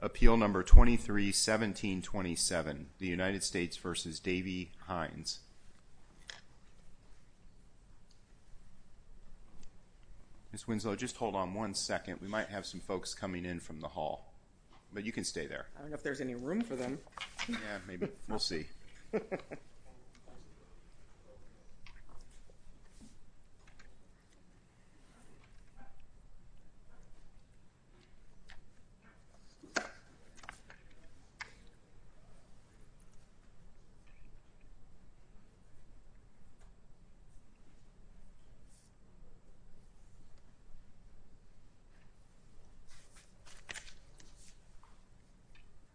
Appeal No. 23-1727, the United States v. Davey Hines. Ms. Winslow, just hold on one second. We might have some folks coming in from the hall, but you can stay there. I don't know if there's any room for them. Yeah, maybe. We'll see.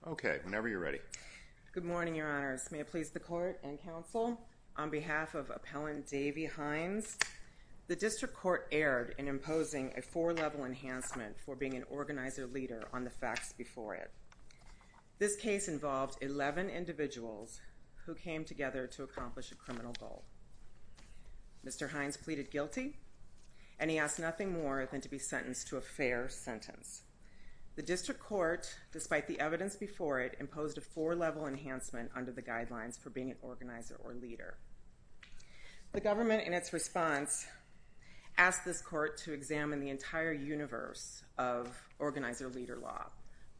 Okay, whenever you're ready. Good morning, Your Honors. May it please the Court and Counsel, on behalf of Appellant Davey Hines, the District Court erred in imposing a four-level enhancement for being an organizer or leader on the facts before it. This case involved 11 individuals who came together to accomplish a criminal goal. Mr. Hines pleaded guilty, and he asked nothing more than to be sentenced to a fair sentence. The District Court, despite the evidence before it, imposed a four-level enhancement under the guidelines for being an organizer or leader. The government, in its response, asked this Court to examine the entire universe of organizer-leader law.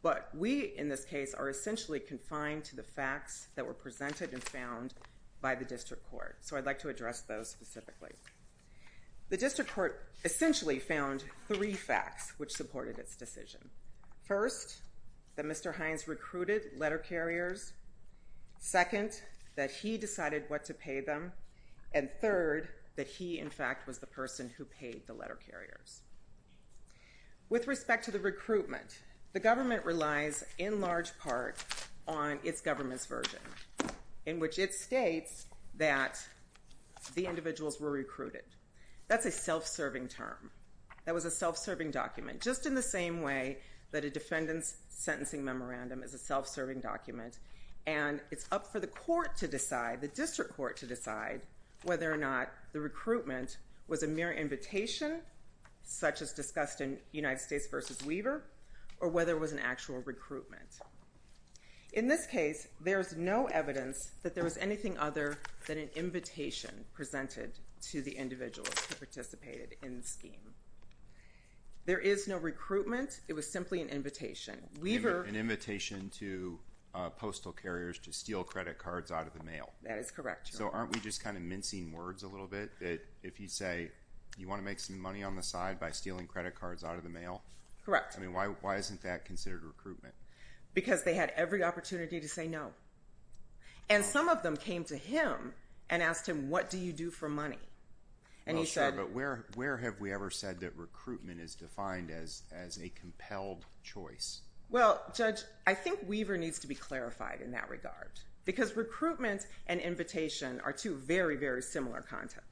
But we, in this case, are essentially confined to the facts that were presented and found by the District Court, so I'd like to address those specifically. The District Court essentially found three facts which supported its decision. First, that Mr. Hines recruited letter carriers. Second, that he decided what to pay them. And third, that he, in fact, was the person who paid the letter carriers. With respect to the recruitment, the government relies in large part on its government's version, in which it states that the individuals were recruited. That's a self-serving term. That was a self-serving document, just in the same way that a defendant's sentencing memorandum is a self-serving document. And it's up for the court to decide, the District Court to decide, whether or not the recruitment was a mere invitation, such as discussed in United States v. Weaver, or whether it was an actual recruitment. In this case, there's no evidence that there was anything other than an invitation presented to the individuals who participated in the scheme. There is no recruitment. It was simply an invitation. An invitation to postal carriers to steal credit cards out of the mail. That is correct. So aren't we just kind of mincing words a little bit, that if you say you want to make some money on the side by stealing credit cards out of the mail? Correct. I mean, why isn't that considered recruitment? Because they had every opportunity to say no. And some of them came to him and asked him, what do you do for money? Oh, sure, but where have we ever said that recruitment is defined as a compelled choice? Well, Judge, I think Weaver needs to be clarified in that regard. Because recruitment and invitation are two very, very similar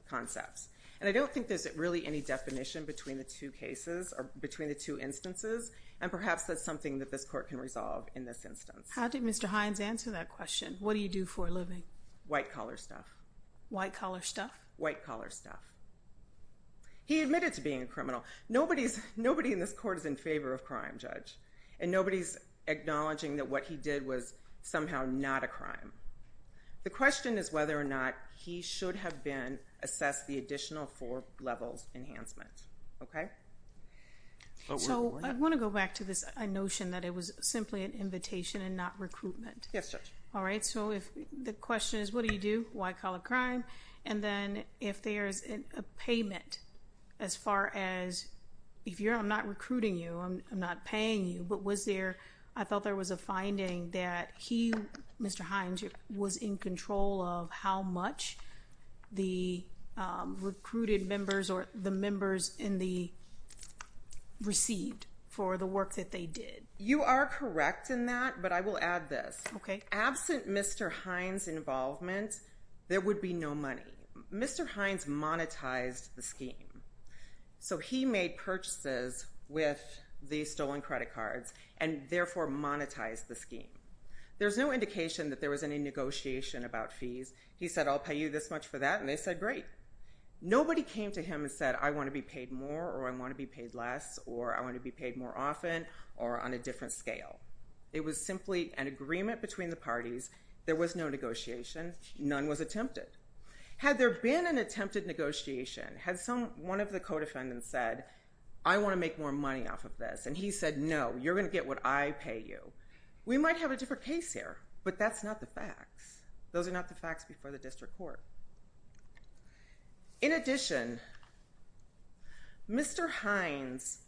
concepts. And I don't think there's really any definition between the two cases or between the two instances, and perhaps that's something that this court can resolve in this instance. How did Mr. Hines answer that question? What do you do for a living? White-collar stuff. White-collar stuff? White-collar stuff. He admitted to being a criminal. Nobody in this court is in favor of crime, Judge. And nobody's acknowledging that what he did was somehow not a crime. The question is whether or not he should have been assessed the additional four levels enhancement. Okay? So I want to go back to this notion that it was simply an invitation and not recruitment. Yes, Judge. All right, so the question is, what do you do? White-collar crime. And then if there's a payment as far as if you're not recruiting you, I'm not paying you, but was there, I thought there was a finding that he, Mr. Hines, was in control of how much the recruited members or the members in the received for the work that they did. You are correct in that, but I will add this. Okay. There would be no money. Mr. Hines monetized the scheme. So he made purchases with the stolen credit cards and therefore monetized the scheme. There's no indication that there was any negotiation about fees. He said, I'll pay you this much for that, and they said, great. Nobody came to him and said, I want to be paid more, or I want to be paid less, or I want to be paid more often, or on a different scale. It was simply an agreement between the parties. There was no negotiation. None was attempted. Had there been an attempted negotiation, had one of the co-defendants said, I want to make more money off of this, and he said, no, you're going to get what I pay you, we might have a different case here, but that's not the facts. Those are not the facts before the district court. In addition, Mr. Hines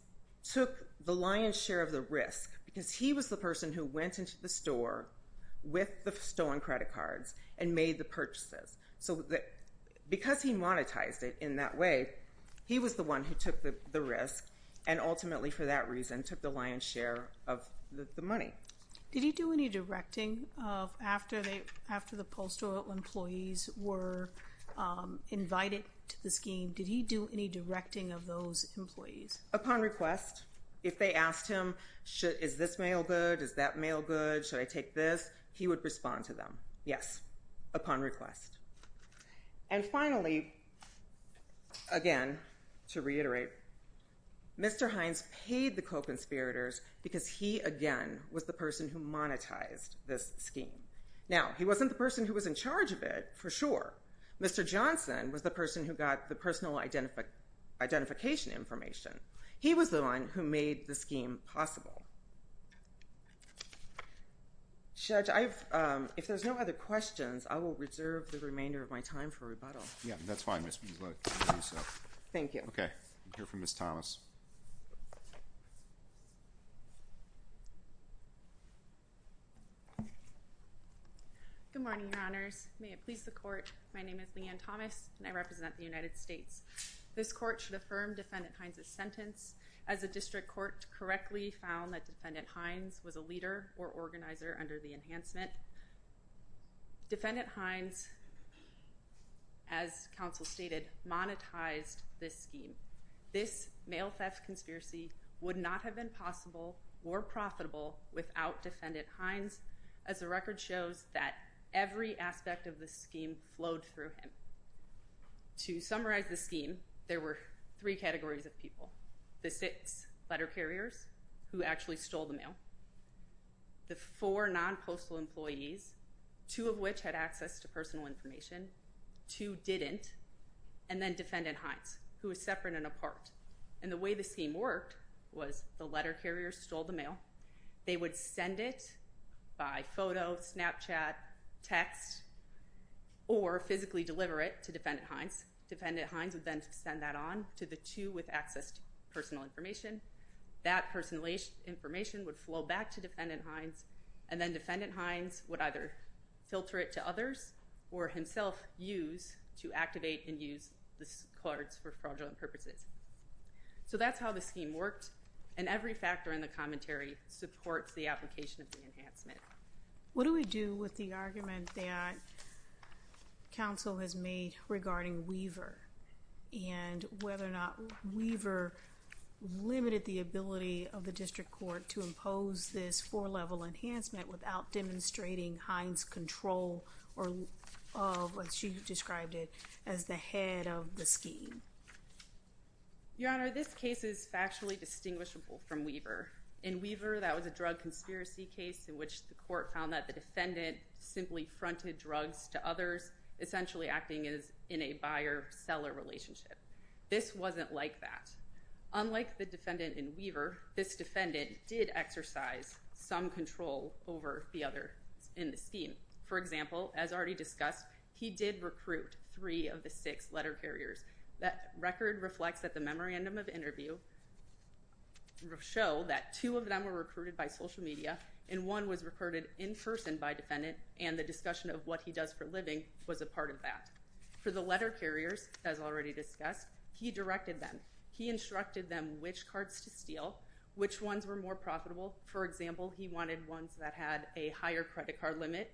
took the lion's share of the risk because he was the person who went into the store with the stolen credit cards and made the purchases. Because he monetized it in that way, he was the one who took the risk and ultimately for that reason took the lion's share of the money. Did he do any directing after the postal employees were invited to the scheme? Did he do any directing of those employees? Upon request. If they asked him, is this mail good, is that mail good, should I take this, he would respond to them. Yes, upon request. And finally, again, to reiterate, Mr. Hines paid the co-conspirators because he, again, was the person who monetized this scheme. Now, he wasn't the person who was in charge of it, for sure. Mr. Johnson was the person who got the personal identification information. He was the one who made the scheme possible. Judge, if there's no other questions, I will reserve the remainder of my time for rebuttal. Yes, that's fine, Ms. Beasley. Thank you. Okay, we'll hear from Ms. Thomas. Good morning, Your Honors. May it please the Court, my name is Leanne Thomas and I represent the United States. This Court should affirm Defendant Hines' sentence as the District Court correctly found that Defendant Hines was a leader or organizer under the enhancement. Defendant Hines, as counsel stated, monetized this scheme. This mail theft conspiracy would not have been possible or profitable without Defendant Hines, as the record shows that every aspect of the scheme flowed through him. To summarize the scheme, there were three categories of people. The six letter carriers who actually stole the mail, the four non-postal employees, two of which had access to personal information, two didn't, and then Defendant Hines, who was separate and apart. And the way the scheme worked was the letter carriers stole the mail, they would send it by photo, Snapchat, text, or physically deliver it to Defendant Hines. Defendant Hines would then send that on to the two with access to personal information. That personal information would flow back to Defendant Hines and then Defendant Hines would either filter it to others or himself use to activate and use the cards for fraudulent purposes. So that's how the scheme worked and every factor in the commentary supports the application of the enhancement. What do we do with the argument that counsel has made regarding Weaver and whether or not Weaver limited the ability of the district court to impose this four-level enhancement without demonstrating Hines' control of, as she described it, as the head of the scheme? Your Honor, this case is factually distinguishable from Weaver. In Weaver, that was a drug conspiracy case in which the court found that the defendant simply fronted drugs to others, essentially acting as in a buyer-seller relationship. This wasn't like that. Unlike the defendant in Weaver, this defendant did exercise some control over the others in the scheme. For example, as already discussed, he did recruit three of the six letter carriers. That record reflects that the memorandum of interview will show that two of them were recruited by social media and one was recruited in person by defendant, and the discussion of what he does for a living was a part of that. For the letter carriers, as already discussed, he directed them. He instructed them which cards to steal, which ones were more profitable. For example, he wanted ones that had a higher credit card limit.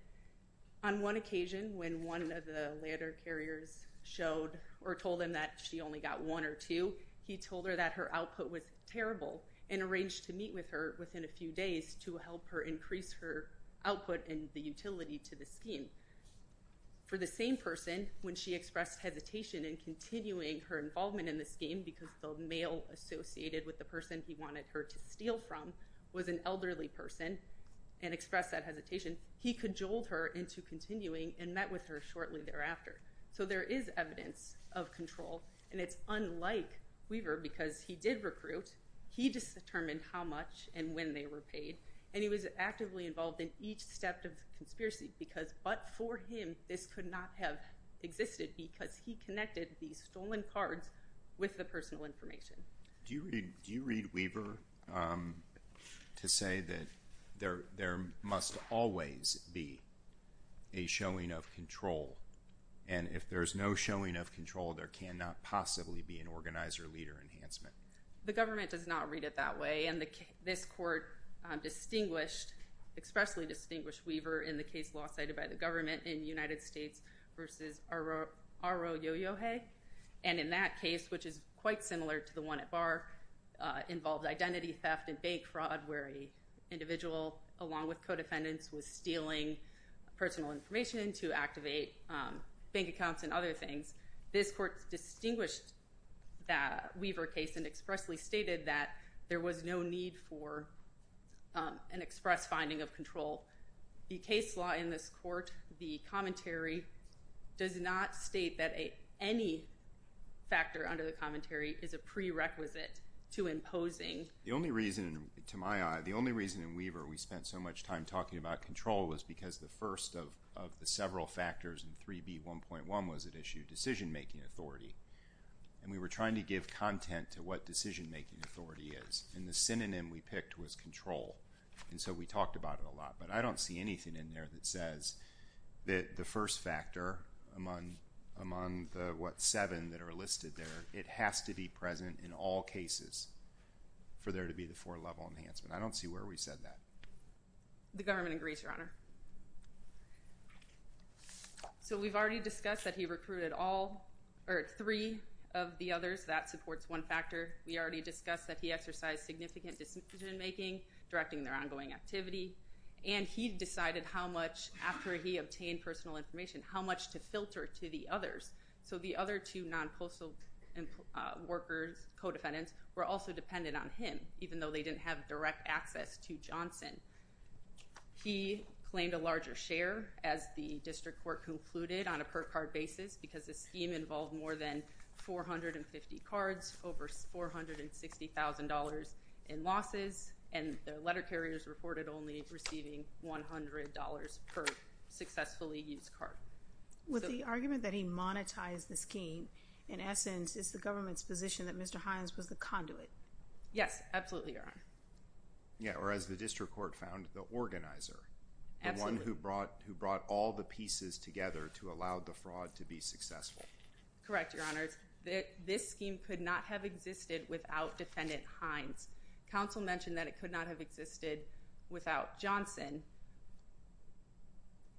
On one occasion, when one of the letter carriers showed or told him that she only got one or two, he told her that her output was terrible and arranged to meet with her within a few days to help her increase her output and the utility to the scheme. For the same person, when she expressed hesitation in continuing her involvement in the scheme because the male associated with the person he wanted her to steal from was an elderly person and expressed that hesitation, he cajoled her into continuing and met with her shortly thereafter. So there is evidence of control, and it's unlike Weaver because he did recruit, he just determined how much and when they were paid, and he was actively involved in each step of the conspiracy because, but for him, this could not have existed because he connected these stolen cards with the personal information. Do you read Weaver to say that there must always be a showing of control, and if there's no showing of control, there cannot possibly be an organizer-leader enhancement? The government does not read it that way, and this court expressly distinguished Weaver in the case law cited by the government in the United States versus R.O. Yo-Yo Hay, and in that case, which is quite similar to the one at Barr, involved identity theft and bank fraud where an individual, along with co-defendants, was stealing personal information to activate bank accounts and other things. This court distinguished the Weaver case and expressly stated that there was no need for an express finding of control. The case law in this court, the commentary, does not state that any factor under the commentary is a prerequisite to imposing. The only reason, to my eye, the only reason in Weaver we spent so much time talking about control was because the first of the several factors in 3B1.1 was at issue, decision-making authority, and we were trying to give content to what decision-making authority is, and the synonym we picked was control, and so we talked about it a lot, but I don't see anything in there that says that the first factor among the, what, seven that are listed there, it has to be present in all cases for there to be the four-level enhancement. I don't see where we said that. The government agrees, Your Honor. So we've already discussed that he recruited all, or three of the others. That supports one factor. We already discussed that he exercised significant decision-making, directing their ongoing activity, and he decided how much, after he obtained personal information, how much to filter to the others. So the other two non-postal workers, co-defendants, were also dependent on him, even though they didn't have direct access to Johnson. He claimed a larger share, as the district court concluded on a per-card basis, because the scheme involved more than 450 cards, over $460,000 in losses, and their letter carriers reported only receiving $100 per successfully used card. With the argument that he monetized the scheme, in essence, is the government's position that Mr. Hines was the conduit? Yes, absolutely, Your Honor. Yeah, or as the district court found, the organizer. The one who brought all the pieces together to allow the fraud to be successful. Correct, Your Honors. This scheme could not have existed without Defendant Hines. Counsel mentioned that it could not have existed without Johnson.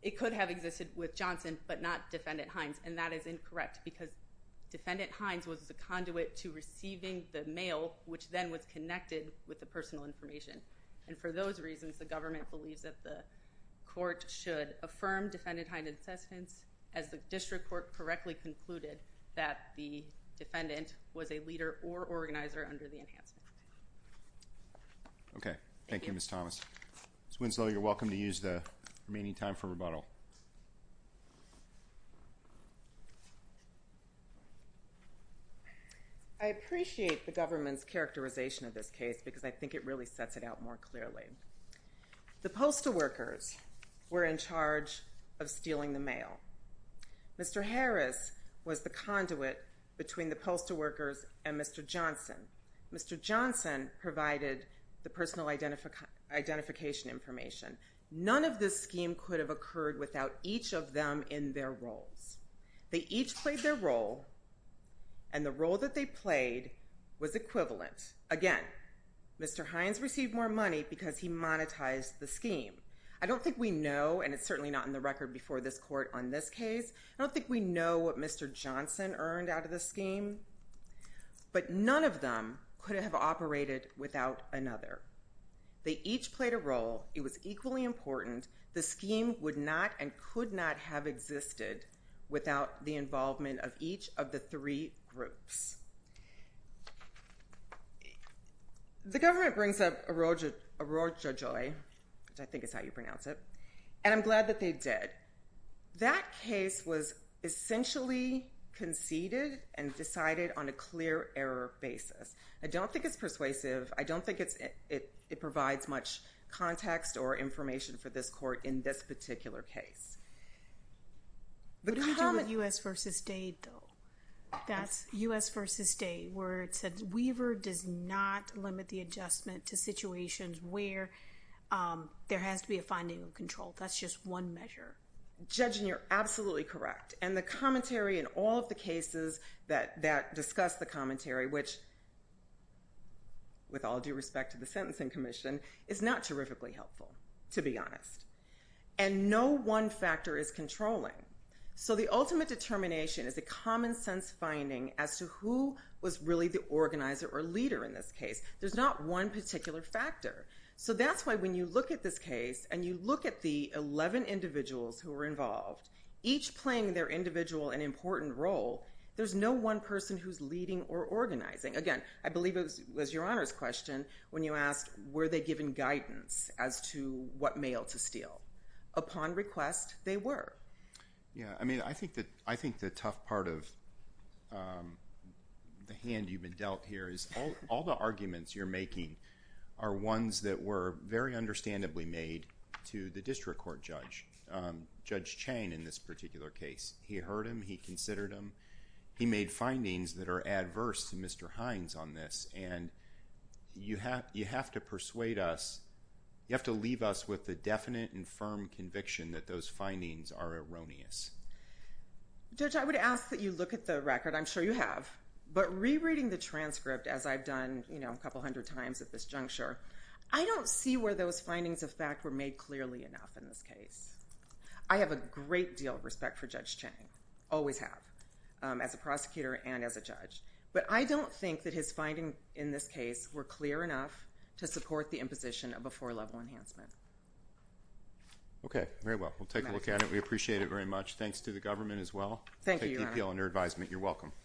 It could have existed with Johnson, but not Defendant Hines, and that is incorrect, because Defendant Hines was the conduit to receiving the mail, which then was connected with the personal information, and for those reasons, the government believes that the court should affirm Defendant Hines' insistence, as the district court correctly concluded that the defendant was a leader or organizer under the enhancement. Okay, thank you, Ms. Thomas. Ms. Winslow, you're welcome to use the remaining time for rebuttal. I appreciate the government's characterization of this case, because I think it really sets it out more clearly. The postal workers were in charge of stealing the mail. Mr. Harris was the conduit between the postal workers and Mr. Johnson. Mr. Johnson provided the personal identification information. None of this scheme could have occurred without each of them in their roles. They each played their role, and the role that they played was equivalent. Again, Mr. Hines received more money because he monetized the scheme. I don't think we know, and it's certainly not in the record before this court on this case, I don't think we know what Mr. Johnson earned out of this scheme, but none of them could have operated without another. They each played a role. It was equally important. The scheme would not and could not have existed without the involvement of each of the three groups. The government brings up Orojo Joy, which I think is how you pronounce it, and I'm glad that they did. That case was essentially conceded and decided on a clear error basis. I don't think it's persuasive. I don't think it provides much context or information for this court in this particular case. What do we do with U.S. v. State, though? That's U.S. v. State, where it says Weaver does not limit the adjustment to situations where there has to be a finding of control. That's just one measure. Judging, you're absolutely correct, and the commentary in all of the cases that discuss the commentary, which, with all due respect to the Sentencing Commission, is not terrifically helpful, to be honest. And no one factor is controlling. So the ultimate determination is a common-sense finding as to who was really the organizer or leader in this case. There's not one particular factor. So that's why when you look at this case and you look at the 11 individuals who were involved, each playing their individual and important role, there's no one person who's leading or organizing. Again, I believe it was Your Honor's question when you asked were they given guidance as to what mail to steal. Upon request, they were. Yeah, I mean, I think the tough part of the hand you've been dealt here is all the arguments you're making are ones that were very understandably made to the district court judge, Judge Chain, in this particular case. He heard him, he considered him, he made findings that are adverse to Mr. Hines on this, and you have to persuade us, you have to leave us with a definite and firm conviction that those findings are erroneous. Judge, I would ask that you look at the record. I'm sure you have. But rereading the transcript, as I've done, you know, a couple hundred times at this juncture, I don't see where those findings of fact were made clearly enough in this case. I have a great deal of respect for Judge Chain. Always have, as a prosecutor and as a judge. But I don't think that his findings in this case were clear enough to support the imposition of a four-level enhancement. Okay, very well. We'll take a look at it. We appreciate it very much. Thanks to the government as well. Thank you, Your Honor. Take DPL under advisement. You're welcome.